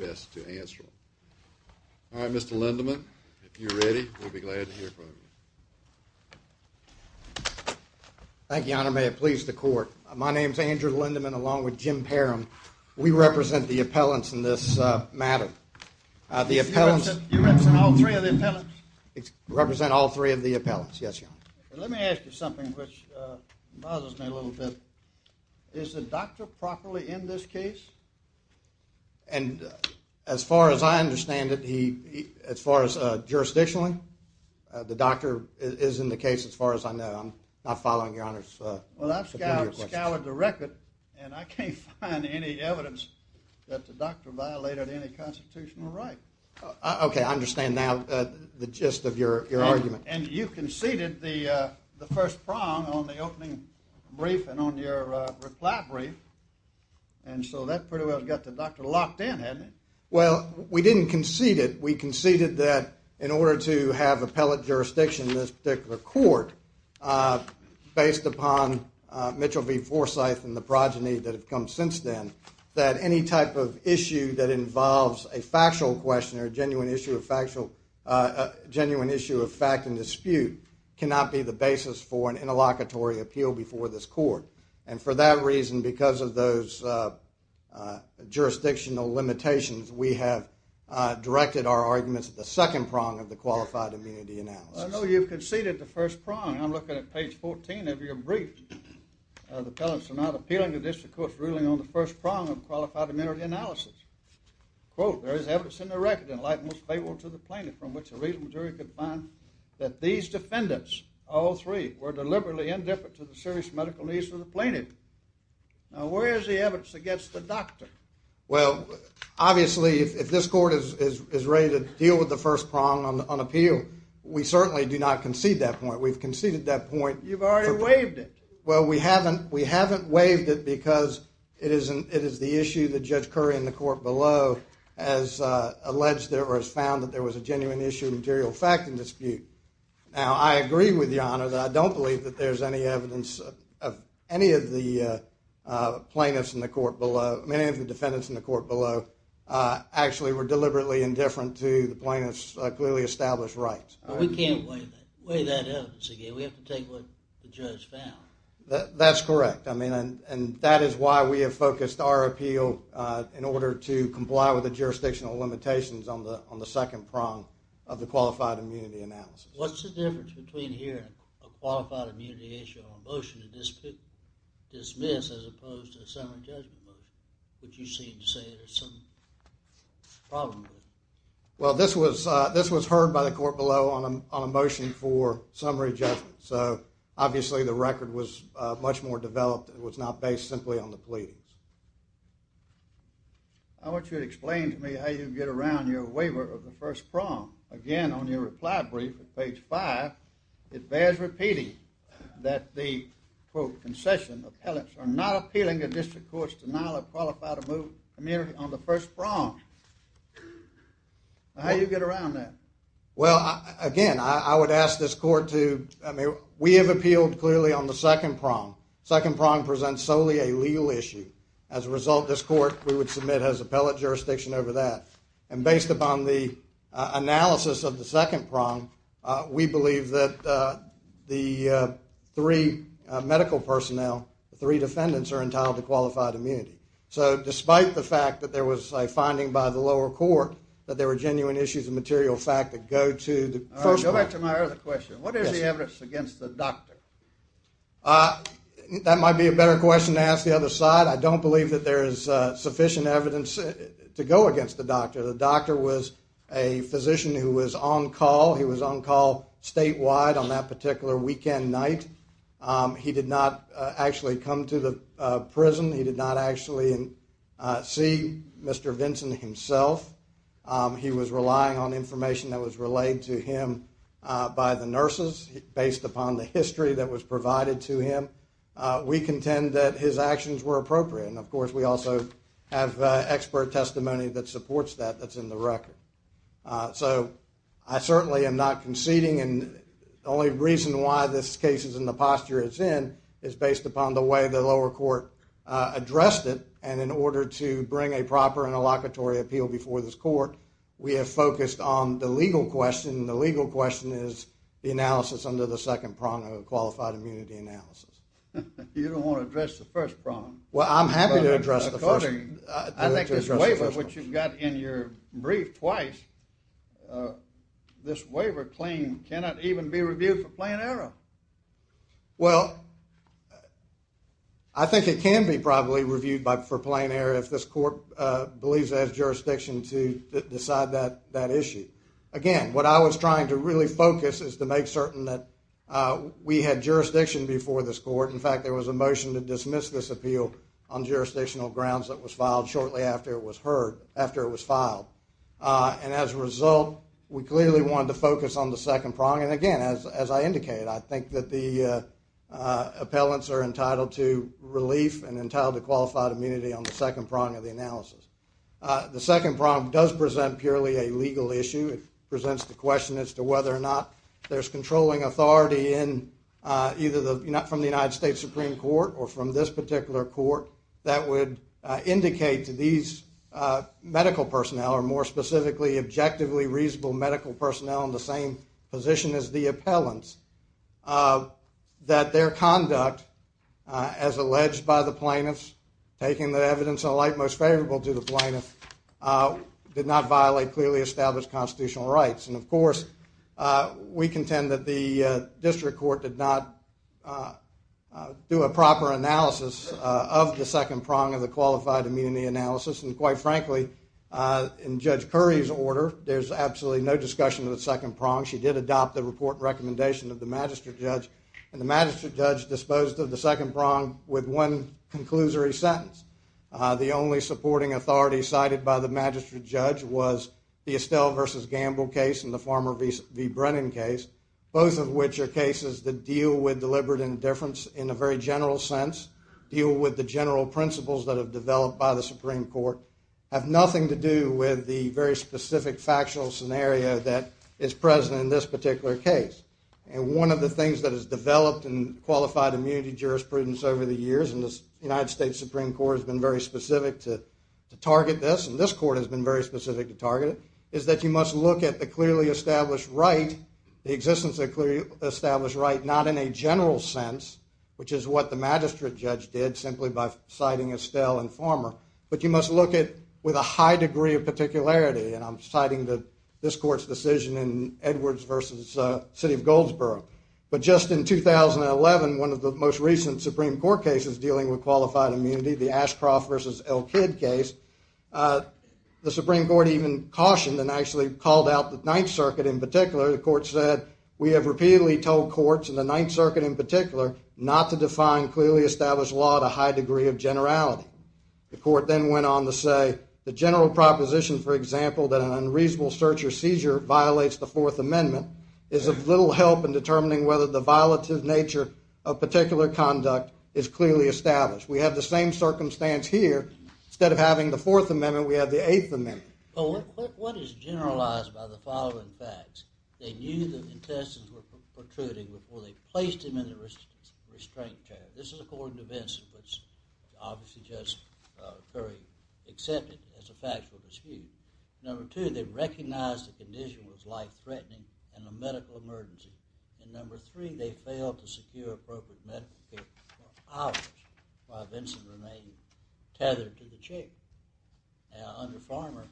All right, Mr. Lindemann, if you're ready, we'll be glad to hear from you. Thank you, Your Honor. May it please the Court. My name is Andrew Lindemann along with Jim Parham. We represent the appellants in this matter. You represent all three of the appellants? We represent all three of the appellants, yes, Your Honor. Let me ask you something which bothers me a little bit. Is the doctor properly in this case? And as far as I understand it, as far as jurisdictionally, the doctor is in the case as far as I know. I'm not following Your Honor's opinion. Well, I've scoured the record and I can't find any evidence that the doctor violated any constitutional right. Okay, I understand now the gist of your argument. And you conceded the first prong on the opening brief and on your reply brief. And so that pretty well got the doctor locked in, hadn't it? Well, we didn't concede it. We conceded that in order to have appellate jurisdiction in this particular court based upon Mitchell v. Forsyth and the progeny that have come since then, that any type of issue that involves a factual question or a genuine issue of fact and dispute cannot be the basis for an interlocutory appeal before this court. And for that reason, because of those jurisdictional limitations, we have directed our arguments at the second prong of the Qualified Immunity Analysis. I know you've conceded the first prong. I'm looking at page 14 of your brief. The pellants are not appealing to this court's ruling on the first prong of Qualified Immunity Analysis. Quote, there is evidence in the record in light most favorable to the plaintiff from which a reasonable jury could find that these defendants, all three, were deliberately indifferent to the serious medical needs of the plaintiff. Now, where is the evidence against the doctor? Well, obviously, if this court is ready to deal with the first prong on appeal, we certainly do not concede that point. We've conceded that point. You've already waived it. Well, we haven't waived it because it is the issue that Judge Curry in the court below has alleged or has found that there was a genuine issue of material fact and dispute. Now, I agree with Your Honor that I don't believe that there's any evidence of any of the plaintiffs in the court below, many of the defendants in the court below, actually were deliberately indifferent to the plaintiff's clearly established rights. We can't waive that evidence again. We have to take what the judge found. That's correct, and that is why we have focused our appeal in order to comply with the jurisdictional limitations on the second prong of the qualified immunity analysis. What's the difference between hearing a qualified immunity issue on a motion to dismiss as opposed to a summary judgment motion, which you seem to say there's some problem with? Well, this was heard by the court below on a motion for summary judgment, so obviously the record was much more developed. It was not based simply on the pleadings. I want you to explain to me how you get around your waiver of the first prong. Again, on your reply brief at page 5, it bears repeating that the, quote, concession appellants are not appealing a district court's denial of qualified immunity on the first prong. How do you get around that? Well, again, I would ask this court to, I mean, we have appealed clearly on the second prong. The second prong presents solely a legal issue. As a result, this court, we would submit as appellate jurisdiction over that, and based upon the analysis of the second prong, we believe that the three medical personnel, the three defendants, are entitled to qualified immunity. So despite the fact that there was a finding by the lower court that there were genuine issues of material fact that go to the first prong. I have a question. What is the evidence against the doctor? That might be a better question to ask the other side. I don't believe that there is sufficient evidence to go against the doctor. The doctor was a physician who was on call. He was on call statewide on that particular weekend night. He did not actually come to the prison. He did not actually see Mr. Vinson himself. He was relying on information that was relayed to him by the nurses based upon the history that was provided to him. We contend that his actions were appropriate, and of course we also have expert testimony that supports that that's in the record. So I certainly am not conceding, and the only reason why this case is in the posture it's in is based upon the way the lower court addressed it, and in order to bring a proper interlocutory appeal before this court, we have focused on the legal question, and the legal question is the analysis under the second prong of a qualified immunity analysis. You don't want to address the first prong. Well, I'm happy to address the first prong. I think this waiver, which you've got in your brief twice, this waiver claim cannot even be reviewed for plain error. Well, I think it can be probably reviewed for plain error if this court believes it has jurisdiction to decide that issue. Again, what I was trying to really focus is to make certain that we had jurisdiction before this court. In fact, there was a motion to dismiss this appeal on jurisdictional grounds that was filed shortly after it was heard, after it was filed, and as a result, we clearly wanted to focus on the second prong, and again, as I indicated, I think that the appellants are entitled to relief and entitled to qualified immunity on the second prong of the analysis. The second prong does present purely a legal issue. It presents the question as to whether or not there's controlling authority from the United States Supreme Court or from this particular court that would indicate to these medical personnel, or more specifically, objectively reasonable medical personnel in the same position as the appellants, that their conduct as alleged by the plaintiffs, taking the evidence in the light most favorable to the plaintiffs, did not violate clearly established constitutional rights. And of course, we contend that the district court did not do a proper analysis of the second prong of the qualified immunity analysis, and quite frankly, in Judge Curry's order, there's absolutely no discussion of the second prong. She did adopt the report recommendation of the Magistrate Judge, and the Magistrate Judge disposed of the second prong with one conclusory sentence. The only supporting authority cited by the Magistrate Judge was the Estelle v. Gamble case and the Farmer v. Brennan case, both of which are cases that deal with deliberate indifference in a very general sense, deal with the general principles that have developed by the Supreme Court, have nothing to do with the very specific factual scenario that is present in this particular case. And one of the things that has developed in qualified immunity jurisprudence over the years, and the United States Supreme Court has been very specific to target this, and this court has been very specific to target it, is that you must look at the clearly established right, the existence of a clearly established right not in a general sense, which is what the Magistrate Judge did simply by citing Estelle and Farmer, but you must look at it with a high degree of particularity, and I'm citing this court's decision in Edwards v. City of Goldsboro. But just in 2011, one of the most recent Supreme Court cases dealing with qualified immunity, the Ashcroft v. Elkid case, the Supreme Court even cautioned and actually called out the Ninth Circuit in particular. The court said, we have repeatedly told courts, and the Ninth Circuit in particular, not to define clearly established law to a high degree of generality. The court then went on to say, the general proposition, for example, that an unreasonable search or seizure violates the Fourth Amendment, is of little help in determining whether the violative nature of particular conduct is clearly established. We have the same circumstance here. Instead of having the Fourth Amendment, we have the Eighth Amendment. What is generalized by the following facts? They knew the intestines were protruding before they placed him in the restraint chair. This is according to Vincent, which obviously Judge Curry accepted as a factual dispute. Number two, they recognized the condition was life-threatening and a medical emergency. And number three, they failed to secure appropriate medical care for hours while Vincent remained tethered to the chair. Under Farmer,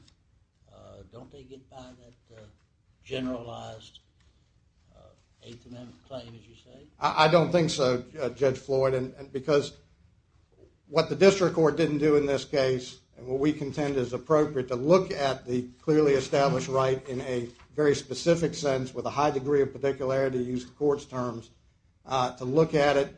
don't they get by that generalized Eighth Amendment claim, as you say? I don't think so, Judge Floyd, because what the district court didn't do in this case and what we contend is appropriate to look at the clearly established right in a very specific sense with a high degree of particularity, to use the court's terms, to look at it,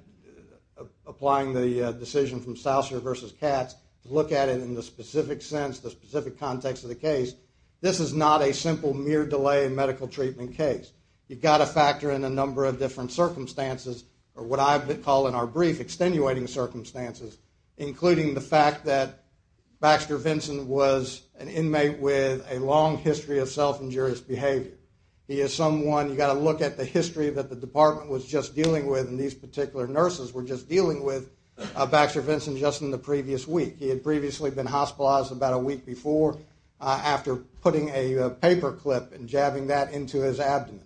applying the decision from Souser v. Katz, to look at it in the specific sense, the specific context of the case. This is not a simple mere delay in medical treatment case. You've got to factor in a number of different circumstances, or what I call in our brief extenuating circumstances, including the fact that Baxter Vincent was an inmate with a long history of self-injurious behavior. He is someone, you've got to look at the history that the department was just dealing with and these particular nurses were just dealing with Baxter Vincent just in the previous week. He had previously been hospitalized about a week before after putting a paper clip and jabbing that into his abdomen.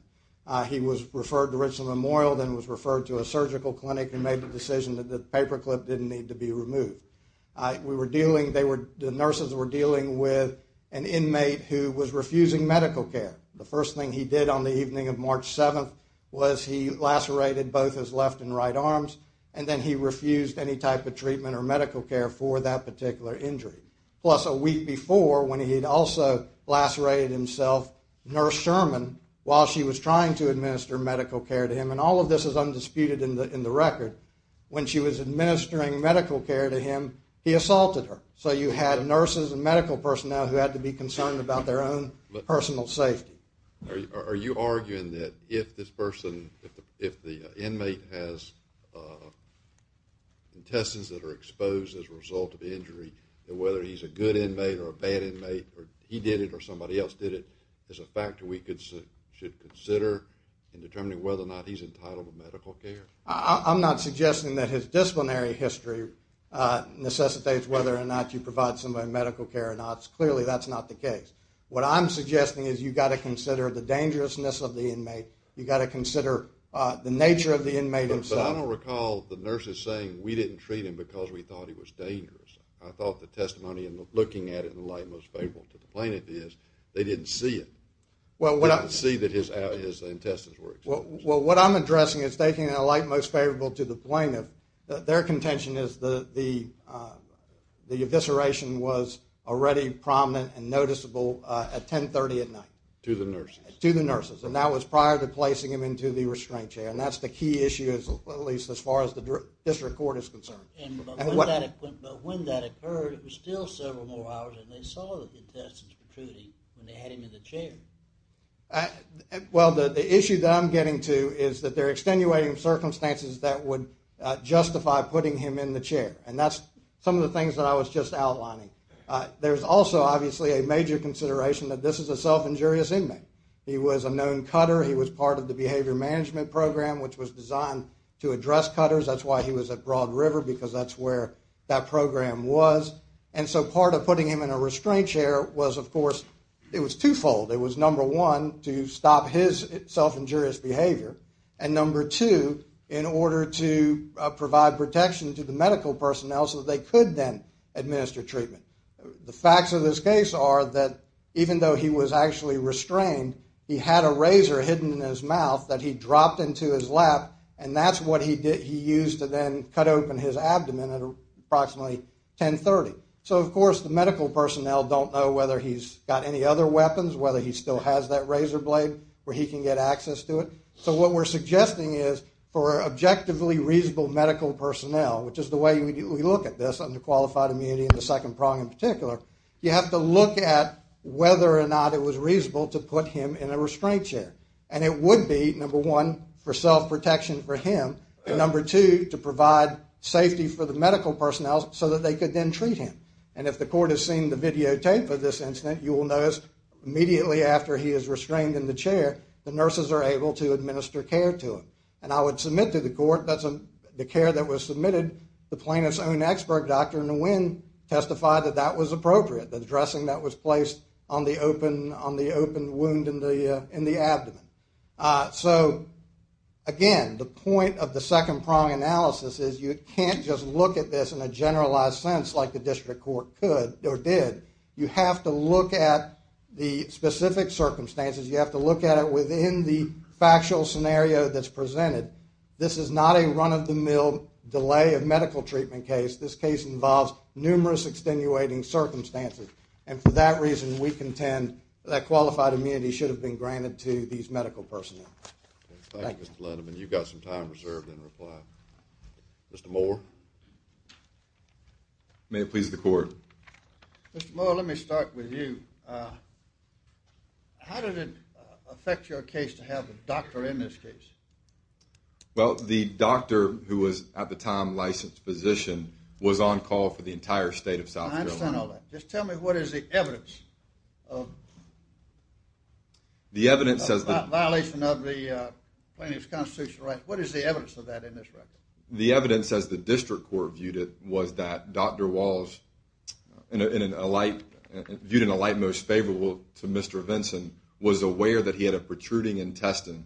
He was referred to Richland Memorial, then was referred to a surgical clinic and made the decision that the paper clip didn't need to be removed. The nurses were dealing with an inmate who was refusing medical care. The first thing he did on the evening of March 7th was he lacerated both his left and right arms and then he refused any type of treatment or medical care for that particular injury. Plus, a week before, when he had also lacerated himself, Nurse Sherman, while she was trying to administer medical care to him, and all of this is undisputed in the record, when she was administering medical care to him, he assaulted her. So you had nurses and medical personnel who had to be concerned about their own personal safety. Are you arguing that if this person, if the inmate has intestines that are exposed as a result of the injury, that whether he's a good inmate or a bad inmate, or he did it or somebody else did it, is a factor we should consider in determining whether or not he's entitled to medical care? I'm not suggesting that his disciplinary history necessitates whether or not you provide somebody medical care or not. Clearly, that's not the case. What I'm suggesting is you've got to consider the dangerousness of the inmate. You've got to consider the nature of the inmate himself. But I don't recall the nurses saying we didn't treat him because we thought he was dangerous. I thought the testimony and looking at it in the light most favorable to the plaintiff is they didn't see it. They didn't see that his intestines were exposed. Well, what I'm addressing is taking it in the light most favorable to the plaintiff. Their contention is the evisceration was already prominent and noticeable at 1030 at night. To the nurses. To the nurses, and that was prior to placing him into the restraint chair, and that's the key issue at least as far as the district court is concerned. But when that occurred, it was still several more hours, and they saw the intestines protruding when they had him in the chair. Well, the issue that I'm getting to is that they're extenuating circumstances that would justify putting him in the chair, and that's some of the things that I was just outlining. There's also obviously a major consideration that this is a self-injurious inmate. He was a known cutter. He was part of the behavior management program, which was designed to address cutters. That's why he was at Broad River because that's where that program was. And so part of putting him in a restraint chair was, of course, it was twofold. It was, number one, to stop his self-injurious behavior, and number two, in order to provide protection to the medical personnel so that they could then administer treatment. The facts of this case are that even though he was actually restrained, he had a razor hidden in his mouth that he dropped into his lap, and that's what he used to then cut open his abdomen at approximately 1030. So, of course, the medical personnel don't know whether he's got any other weapons, whether he still has that razor blade where he can get access to it. So what we're suggesting is for objectively reasonable medical personnel, which is the way we look at this under qualified immunity in the second prong in particular, you have to look at whether or not it was reasonable to put him in a restraint chair. And it would be, number one, for self-protection for him, and number two, to provide safety for the medical personnel so that they could then treat him. And if the court has seen the videotape of this incident, you will notice immediately after he is restrained in the chair, the nurses are able to administer care to him. And I would submit to the court that the care that was submitted, the plaintiff's own expert, Dr. Nguyen, testified that that was appropriate, the dressing that was placed on the open wound in the abdomen. So, again, the point of the second prong analysis is you can't just look at this in a generalized sense like the district court could or did. You have to look at the specific circumstances. You have to look at it within the factual scenario that's presented. This is not a run-of-the-mill delay of medical treatment case. This case involves numerous extenuating circumstances. And for that reason, we contend that qualified immunity should have been granted to these medical personnel. Thank you, Mr. Lindeman. You've got some time reserved in reply. Mr. Moore. May it please the court. Mr. Moore, let me start with you. How did it affect your case to have a doctor in this case? Well, the doctor who was at the time a licensed physician was on call for the entire state of South Carolina. I understand all that. Just tell me what is the evidence of the violation of the plaintiff's constitutional rights. What is the evidence of that in this record? The evidence, as the district court viewed it, was that Dr. Walsh, viewed in a light most favorable to Mr. Vinson, was aware that he had a protruding intestine,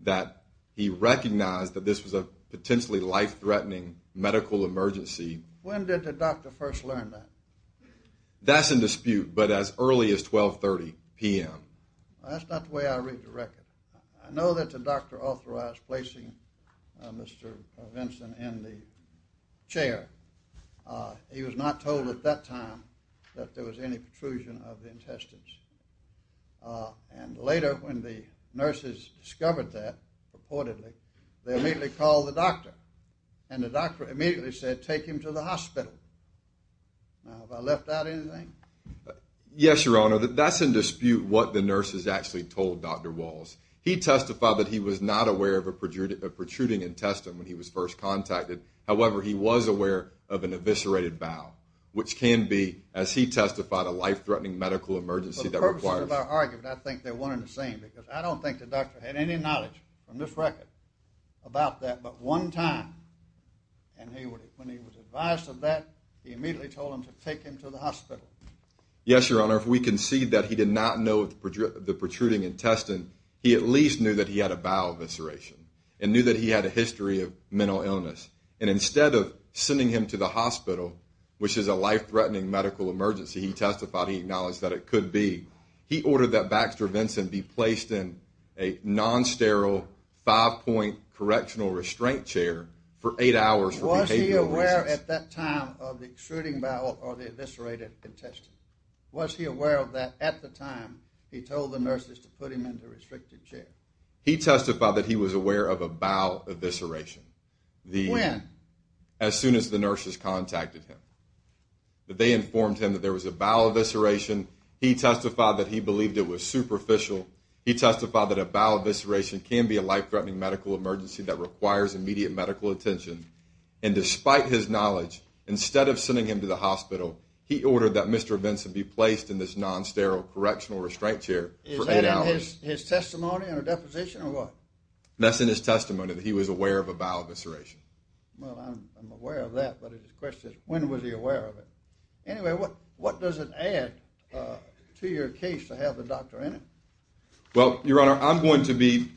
that he recognized that this was a potentially life-threatening medical emergency. When did the doctor first learn that? That's in dispute, but as early as 1230 p.m. That's not the way I read the record. I know that the doctor authorized placing Mr. Vinson in the chair. He was not told at that time that there was any protrusion of the intestines. And later, when the nurses discovered that, reportedly, they immediately called the doctor. And the doctor immediately said, take him to the hospital. Now, have I left out anything? Yes, Your Honor. That's in dispute what the nurses actually told Dr. Walsh. He testified that he was not aware of a protruding intestine when he was first contacted. However, he was aware of an eviscerated bowel, which can be, as he testified, a life-threatening medical emergency that requires— For the purposes of our argument, I think they're one and the same because I don't think the doctor had any knowledge from this record about that but one time. And when he was advised of that, he immediately told them to take him to the hospital. Yes, Your Honor. If we concede that he did not know of the protruding intestine, he at least knew that he had a bowel evisceration and knew that he had a history of mental illness. And instead of sending him to the hospital, which is a life-threatening medical emergency, he testified he acknowledged that it could be, he ordered that Baxter Vinson be placed in a non-sterile five-point correctional restraint chair for eight hours for behavioral reasons. Was he aware at that time of the protruding bowel or the eviscerated intestine? Was he aware of that at the time he told the nurses to put him in the restricted chair? He testified that he was aware of a bowel evisceration. When? As soon as the nurses contacted him. They informed him that there was a bowel evisceration. He testified that he believed it was superficial. He testified that a bowel evisceration can be a life-threatening medical emergency that requires immediate medical attention. And despite his knowledge, instead of sending him to the hospital, he ordered that Mr. Vinson be placed in this non-sterile correctional restraint chair for eight hours. Is that in his testimony in a deposition or what? That's in his testimony that he was aware of a bowel evisceration. Well, I'm aware of that, but the question is when was he aware of it? Anyway, what does it add to your case to have the doctor in it? Well, Your Honor, I'm going to be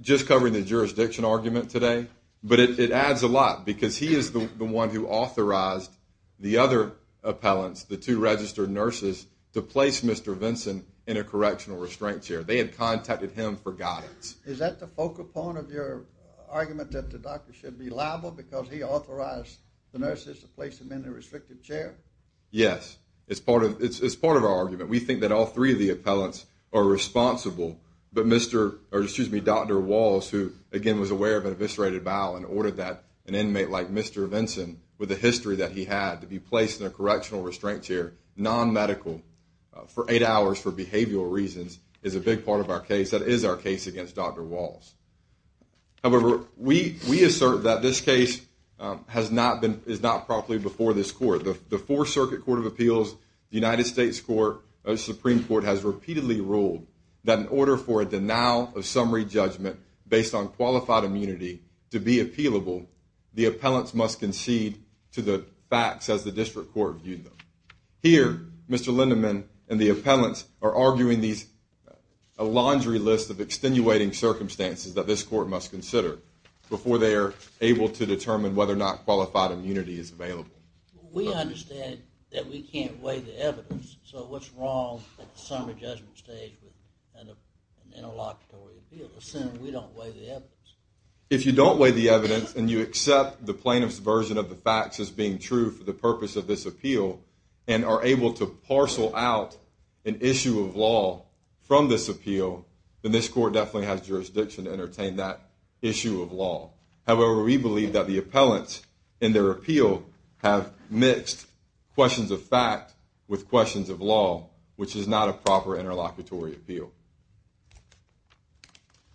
just covering the jurisdiction argument today, but it adds a lot because he is the one who authorized the other appellants, the two registered nurses, to place Mr. Vinson in a correctional restraint chair. They had contacted him for guidance. Is that the focal point of your argument that the doctor should be liable because he authorized the nurses to place him in a restricted chair? Yes. It's part of our argument. We think that all three of the appellants are responsible, but Dr. Walls, who, again, was aware of an eviscerated bowel and ordered that an inmate like Mr. Vinson, with the history that he had, to be placed in a correctional restraint chair, non-medical, for eight hours for behavioral reasons, is a big part of our case. That is our case against Dr. Walls. However, we assert that this case is not properly before this court. The Fourth Circuit Court of Appeals, the United States Supreme Court, has repeatedly ruled that in order for a denial of summary judgment based on qualified immunity to be appealable, the appellants must concede to the facts as the district court viewed them. Here, Mr. Lindemann and the appellants are arguing a laundry list of extenuating circumstances that this court must consider before they are able to determine whether or not qualified immunity is available. We understand that we can't weigh the evidence, so what's wrong at the summary judgment stage with an interlocutory appeal assuming we don't weigh the evidence? If you don't weigh the evidence and you accept the plaintiff's version of the facts as being true for the purpose of this appeal, and are able to parcel out an issue of law from this appeal, then this court definitely has jurisdiction to entertain that issue of law. However, we believe that the appellants in their appeal have mixed questions of fact with questions of law, which is not a proper interlocutory appeal.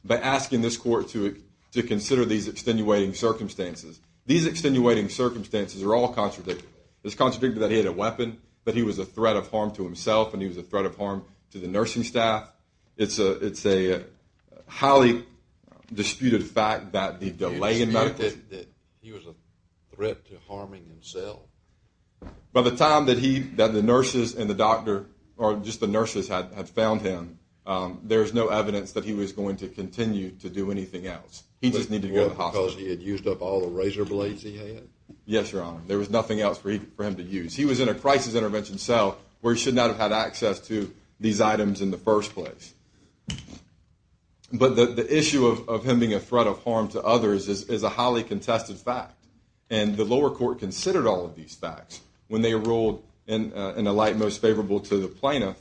By asking this court to consider these extenuating circumstances, these extenuating circumstances are all contradictory. It's contradictory that he had a weapon, that he was a threat of harm to himself, and he was a threat of harm to the nursing staff. It's a highly disputed fact that the delay in medicals... You dispute that he was a threat to harming himself? By the time that the nurses and the doctor, or just the nurses had found him, there was no evidence that he was going to continue to do anything else. He just needed to go to the hospital. Was it more because he had used up all the razor blades he had? Yes, Your Honor. There was nothing else for him to use. He was in a crisis intervention cell where he should not have had access to these items in the first place. But the issue of him being a threat of harm to others is a highly contested fact. And the lower court considered all of these facts when they ruled in a light most favorable to the plaintiff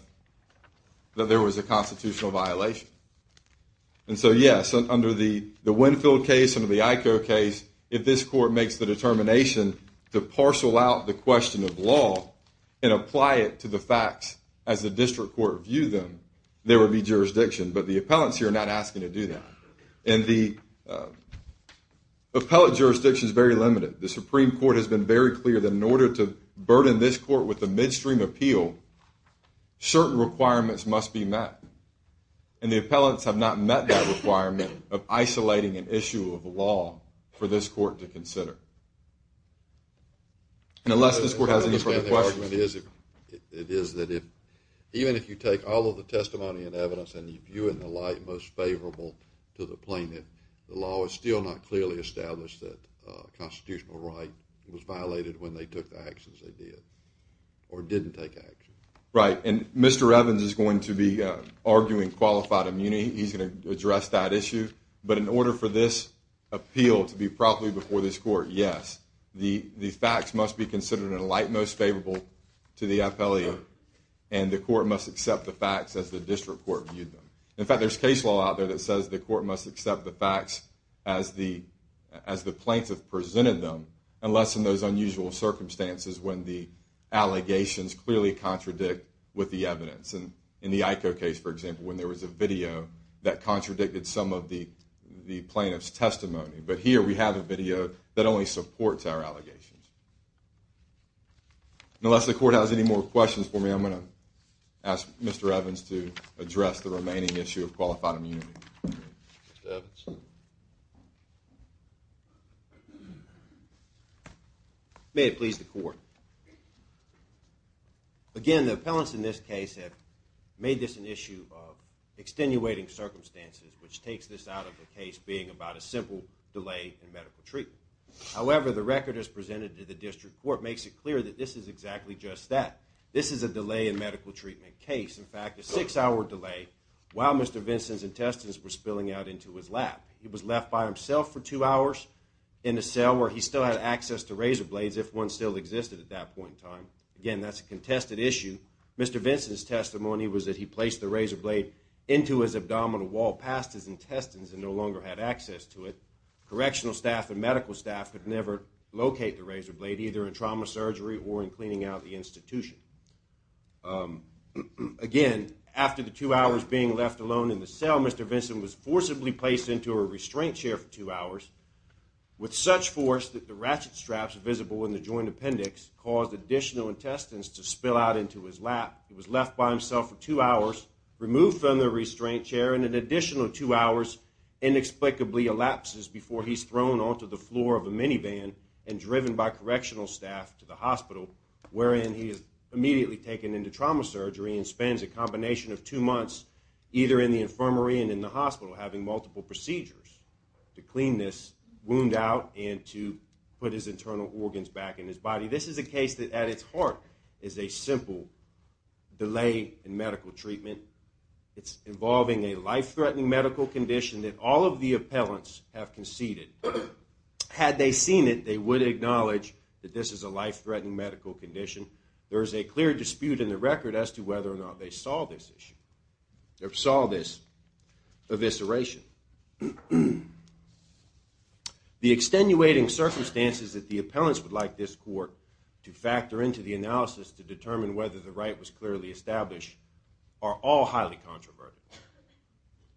that there was a constitutional violation. And so, yes, under the Winfield case, under the IKO case, if this court makes the determination to parcel out the question of law and apply it to the facts as the district court viewed them, there would be jurisdiction. But the appellants here are not asking to do that. And the appellate jurisdiction is very limited. The Supreme Court has been very clear that in order to burden this court with a midstream appeal, certain requirements must be met. And the appellants have not met that requirement of isolating an issue of law for this court to consider. And unless this court has any further questions. It is that even if you take all of the testimony and evidence and you view it in a light most favorable to the plaintiff, the law is still not clearly established that constitutional right was violated when they took the actions they did or didn't take action. Right, and Mr. Evans is going to be arguing qualified immunity. He's going to address that issue. But in order for this appeal to be properly before this court, yes. The facts must be considered in a light most favorable to the appellate. And the court must accept the facts as the district court viewed them. In fact, there's case law out there that says the court must accept the facts as the plaintiff presented them, unless in those unusual circumstances when the allegations clearly contradict with the evidence. In the IKO case, for example, when there was a video that contradicted some of the plaintiff's testimony. But here we have a video that only supports our allegations. Unless the court has any more questions for me, I'm going to ask Mr. Evans to address the remaining issue of qualified immunity. May it please the court. Again, the appellants in this case have made this an issue of extenuating circumstances, which takes this out of the case being about a simple delay in medical treatment. However, the record as presented to the district court makes it clear that this is exactly just that. This is a delay in medical treatment case. In fact, a six-hour delay while Mr. Vincent's intestines were spilling out into his lap. He was left by himself for two hours in a cell where he still had access to razor blades, if one still existed at that point in time. Again, that's a contested issue. Mr. Vincent's testimony was that he placed the razor blade into his abdominal wall past his intestines and no longer had access to it. Correctional staff and medical staff could never locate the razor blade, either in trauma surgery or in cleaning out the institution. Again, after the two hours being left alone in the cell, Mr. Vincent was forcibly placed into a restraint chair for two hours with such force that the ratchet straps visible in the joint appendix caused additional intestines to spill out into his lap. He was left by himself for two hours, removed from the restraint chair, and an additional two hours inexplicably elapses before he's thrown onto the floor of a minivan and driven by correctional staff to the hospital, wherein he is immediately taken into trauma surgery and spends a combination of two months either in the infirmary and in the hospital having multiple procedures to clean this wound out and to put his internal organs back in his body. This is a case that at its heart is a simple delay in medical treatment. It's involving a life-threatening medical condition that all of the appellants have conceded. Had they seen it, they would acknowledge that this is a life-threatening medical condition. There is a clear dispute in the record as to whether or not they saw this issue, or saw this evisceration. The extenuating circumstances that the appellants would like this court to factor into the analysis to determine whether the right was clearly established are all highly controversial.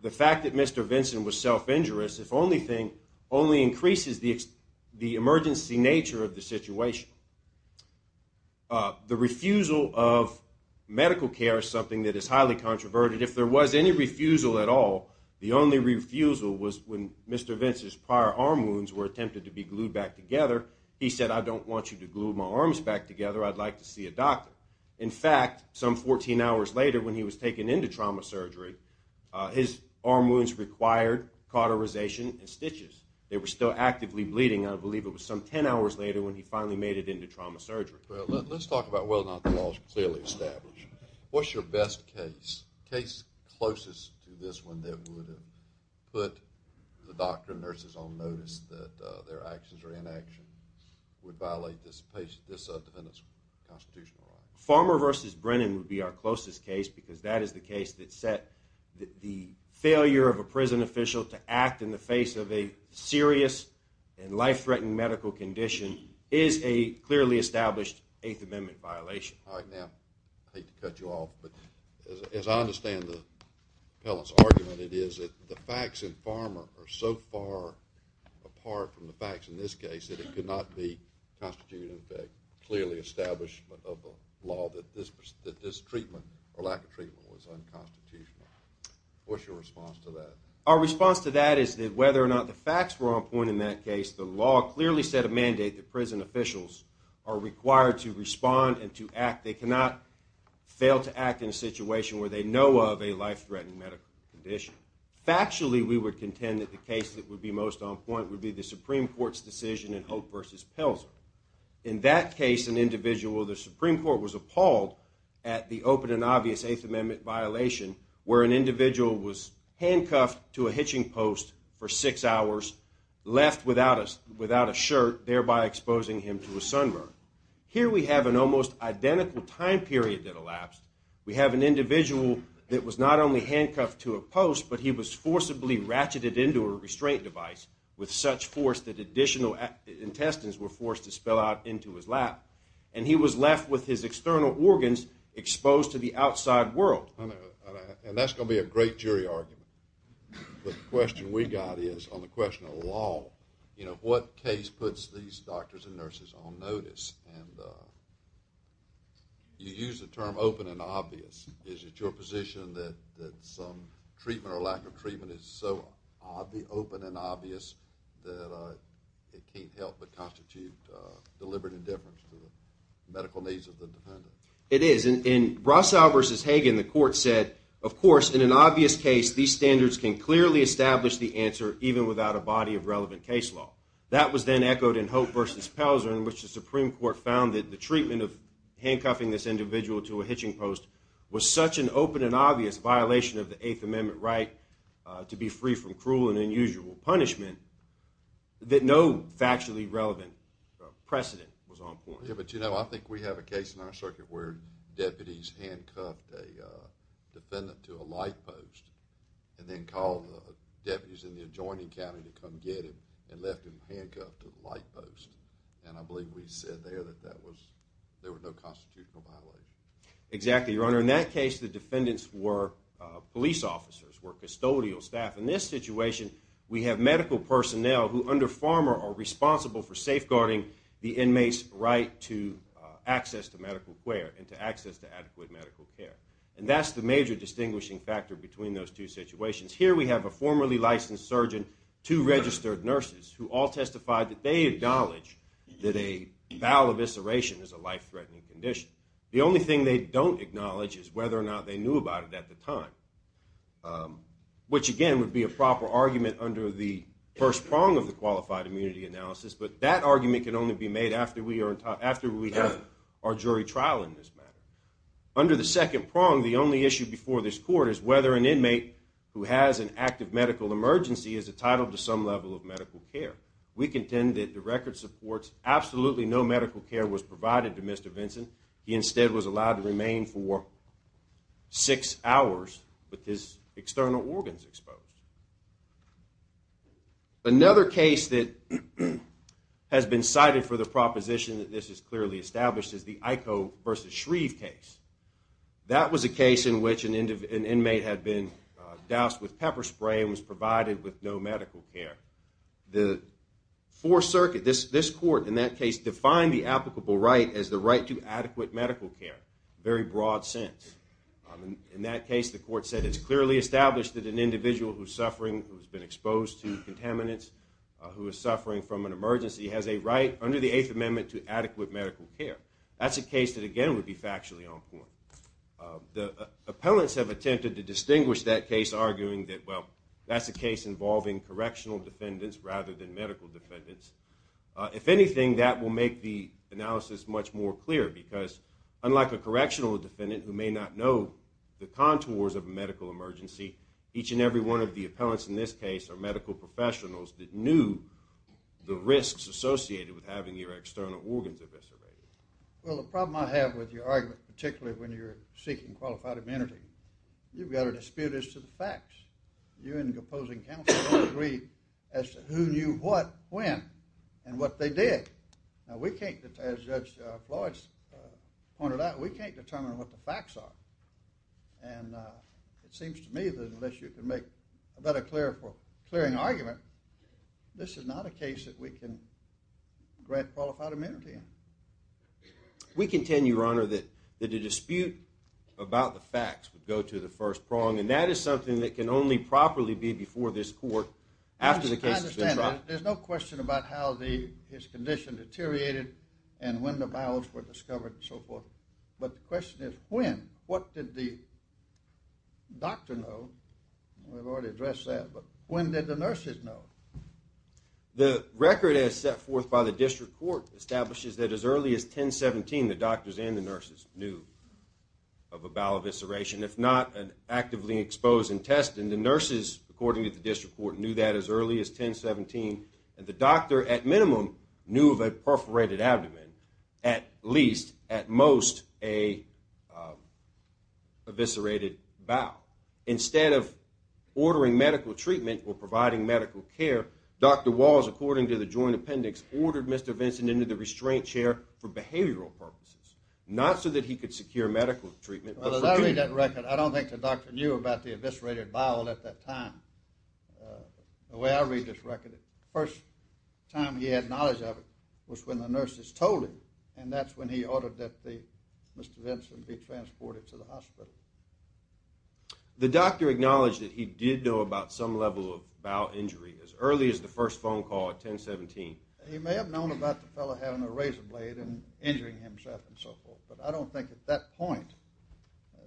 The fact that Mr. Vinson was self-injurious, if only thing, only increases the emergency nature of the situation. The refusal of medical care is something that is highly controversial. If there was any refusal at all, the only refusal was when Mr. Vinson's prior arm wounds were attempted to be glued back together. He said, I don't want you to glue my arms back together, I'd like to see a doctor. In fact, some 14 hours later when he was taken into trauma surgery, his arm wounds required cauterization and stitches. They were still actively bleeding. I believe it was some 10 hours later when he finally made it into trauma surgery. Let's talk about whether or not the law is clearly established. What's your best case? Case closest to this one that would have put the doctor and nurses on notice that their actions or inaction would violate this defendant's constitutional right. Farmer v. Brennan would be our closest case because that is the case that set the failure of a prison official to act in the face of a serious and life-threatening medical condition is a clearly established Eighth Amendment violation. All right, now I hate to cut you off, but as I understand the appellant's argument, it is that the facts in Farmer are so far apart from the facts in this case that it could not be constituted and clearly established of the law that this treatment or lack of treatment was unconstitutional. What's your response to that? Our response to that is that whether or not the facts were on point in that case, the law clearly set a mandate that prison officials are required to respond and to act. They cannot fail to act in a situation where they know of a life-threatening medical condition. Factually, we would contend that the case that would be most on point would be the Supreme Court's decision in Hope v. Pelzer. In that case, an individual of the Supreme Court was appalled at the open and obvious Eighth Amendment violation where an individual was handcuffed to a hitching post for six hours, left without a shirt, thereby exposing him to a sunburn. Here we have an almost identical time period that elapsed. We have an individual that was not only handcuffed to a post, but he was forcibly ratcheted into a restraint device with such force that additional intestines were forced to spill out into his lap, and he was left with his external organs exposed to the outside world. That's going to be a great jury argument. The question we got is on the question of law, what case puts these doctors and nurses on notice? You use the term open and obvious. Is it your position that some treatment or lack of treatment is so open and obvious that it can't help but constitute deliberate indifference to the medical needs of the defendant? It is. In Brasow v. Hagen, the court said, of course, in an obvious case, these standards can clearly establish the answer even without a body of relevant case law. That was then echoed in Hope v. Pelzer in which the Supreme Court found that the treatment of handcuffing this individual to a hitching post was such an open and obvious violation of the Eighth Amendment right to be free from cruel and unusual punishment that no factually relevant precedent was on point. Yeah, but, you know, I think we have a case in our circuit where deputies handcuffed a defendant to a light post and then called the deputies in the adjoining county to come get him and left him handcuffed to the light post, and I believe we said there that there were no constitutional violations. Exactly, Your Honor. Where in that case the defendants were police officers, were custodial staff. In this situation, we have medical personnel who under Farmer are responsible for safeguarding the inmate's right to access to medical care and to access to adequate medical care, and that's the major distinguishing factor between those two situations. Here we have a formerly licensed surgeon, two registered nurses, who all testified that they acknowledge that a bowel evisceration is a life-threatening condition. The only thing they don't acknowledge is whether or not they knew about it at the time, which, again, would be a proper argument under the first prong of the qualified immunity analysis, but that argument can only be made after we have our jury trial in this matter. Under the second prong, the only issue before this court is whether an inmate who has an active medical emergency is entitled to some level of medical care. We contend that the record supports absolutely no medical care was provided to Mr. Vincent. He instead was allowed to remain for six hours with his external organs exposed. Another case that has been cited for the proposition that this is clearly established is the Iko v. Shreve case. That was a case in which an inmate had been doused with pepper spray and was provided with no medical care. The Fourth Circuit, this court, in that case, defined the applicable right as the right to adequate medical care in a very broad sense. In that case, the court said it's clearly established that an individual who has been exposed to contaminants, who is suffering from an emergency, has a right under the Eighth Amendment to adequate medical care. That's a case that, again, would be factually on point. The appellants have attempted to distinguish that case, arguing that, well, that's a case involving correctional defendants rather than medical defendants. If anything, that will make the analysis much more clear because unlike a correctional defendant who may not know the contours of a medical emergency, each and every one of the appellants in this case are medical professionals that knew the risks associated with having your external organs eviscerated. Well, the problem I have with your argument, particularly when you're seeking qualified amenity, you've got a dispute as to the facts. You and the opposing counsel don't agree as to who knew what when and what they did. Now, we can't, as Judge Floyd pointed out, we can't determine what the facts are. And it seems to me that unless you can make a better clearing argument, this is not a case that we can grant qualified amenity in. We contend, Your Honor, that the dispute about the facts, would go to the first prong, and that is something that can only properly be before this court after the case has been tried. I understand that. There's no question about how his condition deteriorated and when the bowels were discovered and so forth. But the question is, when? What did the doctor know? We've already addressed that. But when did the nurses know? The record as set forth by the district court establishes that as early as 1017, the doctors and the nurses knew of a bowel evisceration, if not an actively exposed intestine. The nurses, according to the district court, knew that as early as 1017. And the doctor, at minimum, knew of a perforated abdomen, at least, at most, an eviscerated bowel. Instead of ordering medical treatment or providing medical care, Dr. Walls, according to the joint appendix, ordered Mr. Vinson into the restraint chair for behavioral purposes, not so that he could secure medical treatment but for treatment. I don't think the doctor knew about the eviscerated bowel at that time. The way I read this record, the first time he had knowledge of it was when the nurses told him, and that's when he ordered that Mr. Vinson be transported to the hospital. The doctor acknowledged that he did know about some level of bowel injury as early as the first phone call at 1017. He may have known about the fellow having a razor blade and injuring himself and so forth, but I don't think at that point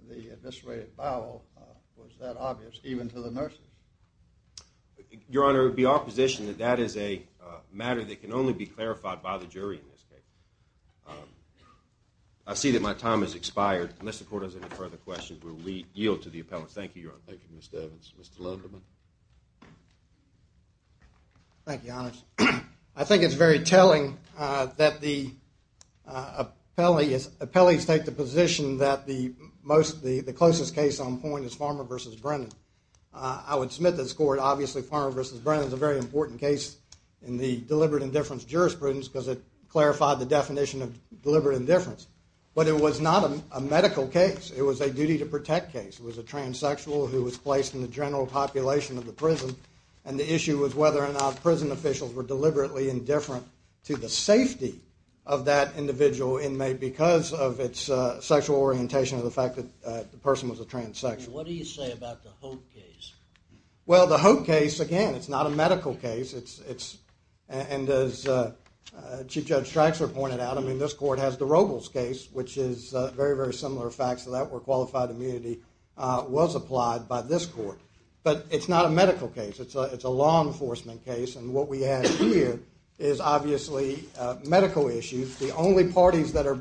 the eviscerated bowel was that obvious, even to the nurses. Your Honor, it would be opposition that that is a matter that can only be clarified by the jury in this case. I see that my time has expired. Unless the court has any further questions, we yield to the appellants. Thank you, Your Honor. Thank you, Mr. Evans. Mr. Lenderman. Thank you, Your Honor. I think it's very telling that the appellees take the position that the closest case on point is Farmer v. Brennan. I would submit to this court, obviously, Farmer v. Brennan is a very important case in the deliberate indifference jurisprudence because it clarified the definition of deliberate indifference. But it was not a medical case. It was a duty-to-protect case. It was a transsexual who was placed in the general population of the prison, and the issue was whether or not prison officials were deliberately indifferent to the safety of that individual inmate because of its sexual orientation or the fact that the person was a transsexual. What do you say about the Holt case? Well, the Holt case, again, it's not a medical case. And as Chief Judge Strachler pointed out, I mean, this court has the Robles case, which is very, very similar facts to that where qualified immunity was applied by this court. But it's not a medical case. It's a law enforcement case, and what we have here is obviously medical issues. The only parties that are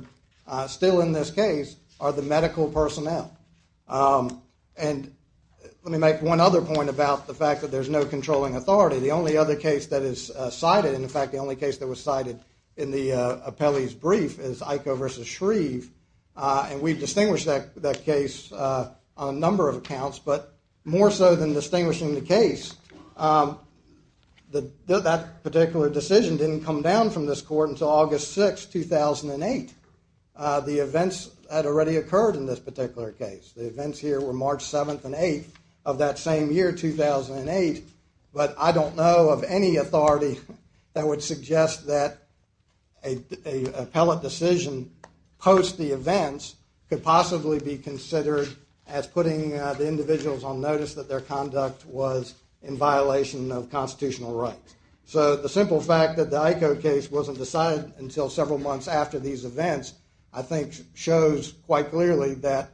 still in this case are the medical personnel. And let me make one other point about the fact that there's no controlling authority. The only other case that is cited, and in fact the only case that was cited in the appellee's brief, is Iko versus Shreve, and we've distinguished that case on a number of accounts, but more so than distinguishing the case, that particular decision didn't come down from this court until August 6, 2008. The events had already occurred in this particular case. The events here were March 7th and 8th of that same year, 2008, but I don't know of any authority that would suggest that an appellate decision post the events could possibly be considered as putting the individuals on notice that their conduct was in violation of constitutional rights. So the simple fact that the Iko case wasn't decided until several months after these events I think shows quite clearly that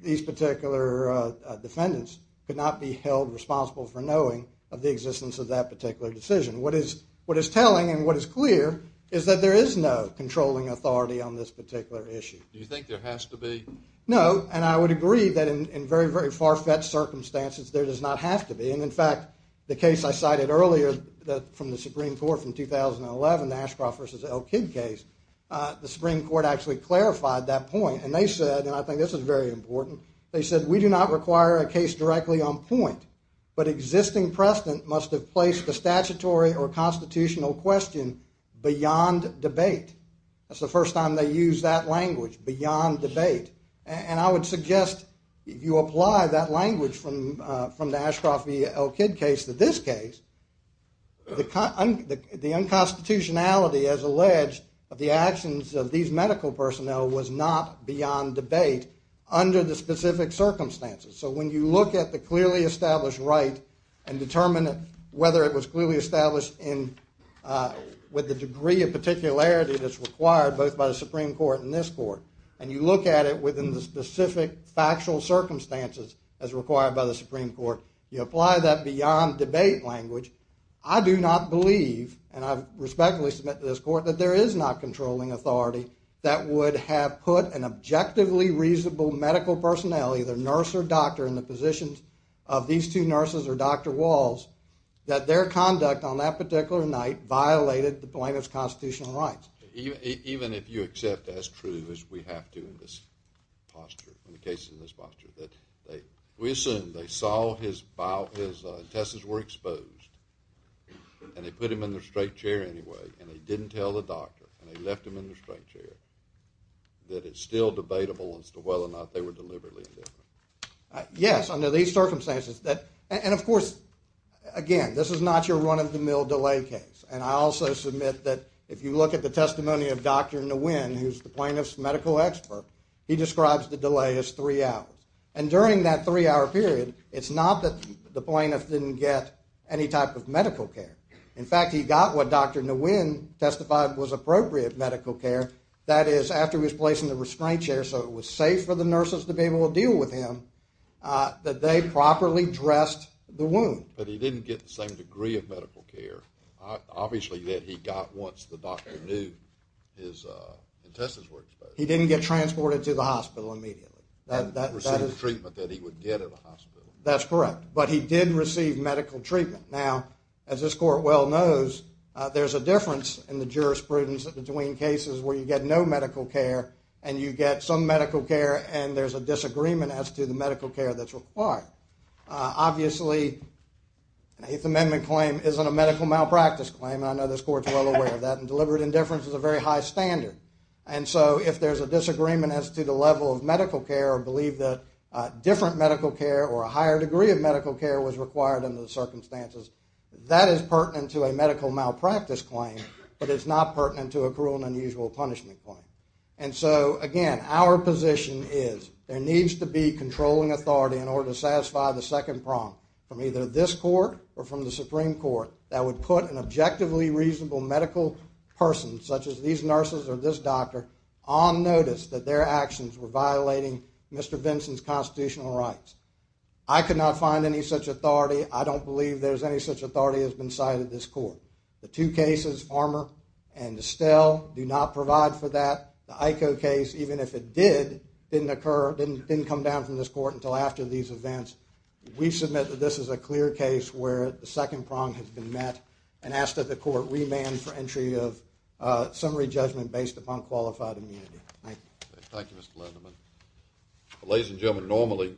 these particular defendants could not be held responsible for knowing of the existence of that particular decision. What is telling and what is clear is that there is no controlling authority on this particular issue. Do you think there has to be? No, and I would agree that in very, very far-fetched circumstances there does not have to be, and in fact the case I cited earlier from the Supreme Court from 2011, the Ashcroft versus Elkid case, the Supreme Court actually clarified that point, and they said, and I think this is very important, they said we do not require a case directly on point, but existing precedent must have placed the statutory or constitutional question beyond debate. That's the first time they used that language, beyond debate, and I would suggest if you apply that language from the Ashcroft versus Elkid case to this case, the unconstitutionality, as alleged, of the actions of these medical personnel was not beyond debate under the specific circumstances. So when you look at the clearly established right and determine whether it was clearly established with the degree of particularity that's required both by the Supreme Court and this court, and you look at it within the specific factual circumstances as required by the Supreme Court, you apply that beyond debate language, I do not believe, and I respectfully submit to this court, that there is not controlling authority that would have put an objectively reasonable medical personnel, either nurse or doctor, in the positions of these two nurses or Dr. Walls, that their conduct on that particular night violated the plaintiff's constitutional rights. Even if you accept that's true, as we have to in this posture, in the cases in this posture, we assume they saw his bowels, his intestines were exposed, and they put him in the straight chair anyway, and they didn't tell the doctor, and they left him in the straight chair, that it's still debatable as to whether or not they were deliberately different. Yes, under these circumstances. And of course, again, this is not your run-of-the-mill delay case. And I also submit that if you look at the testimony of Dr. Nguyen, who's the plaintiff's medical expert, he describes the delay as three hours. And during that three-hour period, it's not that the plaintiff didn't get any type of medical care. In fact, he got what Dr. Nguyen testified was appropriate medical care, that is, after he was placed in the restraint chair, so it was safe for the nurses to be able to deal with him, that they properly dressed the wound. But he didn't get the same degree of medical care, obviously, that he got once the doctor knew his intestines were exposed. He didn't get transported to the hospital immediately. He didn't receive the treatment that he would get at a hospital. That's correct. But he did receive medical treatment. Now, as this court well knows, there's a difference in the jurisprudence between cases where you get no medical care and you get some medical care and there's a disagreement as to the medical care that's required. Obviously, an Eighth Amendment claim isn't a medical malpractice claim, and I know this court's well aware of that, and deliberate indifference is a very high standard. And so if there's a disagreement as to the level of medical care or believe that different medical care or a higher degree of medical care was required under the circumstances, that is pertinent to a medical malpractice claim, but it's not pertinent to a cruel and unusual punishment claim. And so, again, our position is there needs to be controlling authority in order to satisfy the second prong from either this court or from the Supreme Court that would put an objectively reasonable medical person, such as these nurses or this doctor, on notice that their actions were violating Mr. Vinson's constitutional rights. I could not find any such authority. I don't believe there's any such authority that's been cited in this court. The two cases, Farmer and Estelle, do not provide for that. The IKO case, even if it did, didn't occur, didn't come down from this court until after these events. We submit that this is a clear case where the second prong has been met and ask that the court remand for entry of summary judgment based upon qualified immunity. Thank you. Thank you, Mr. Lenderman. Ladies and gentlemen, normally...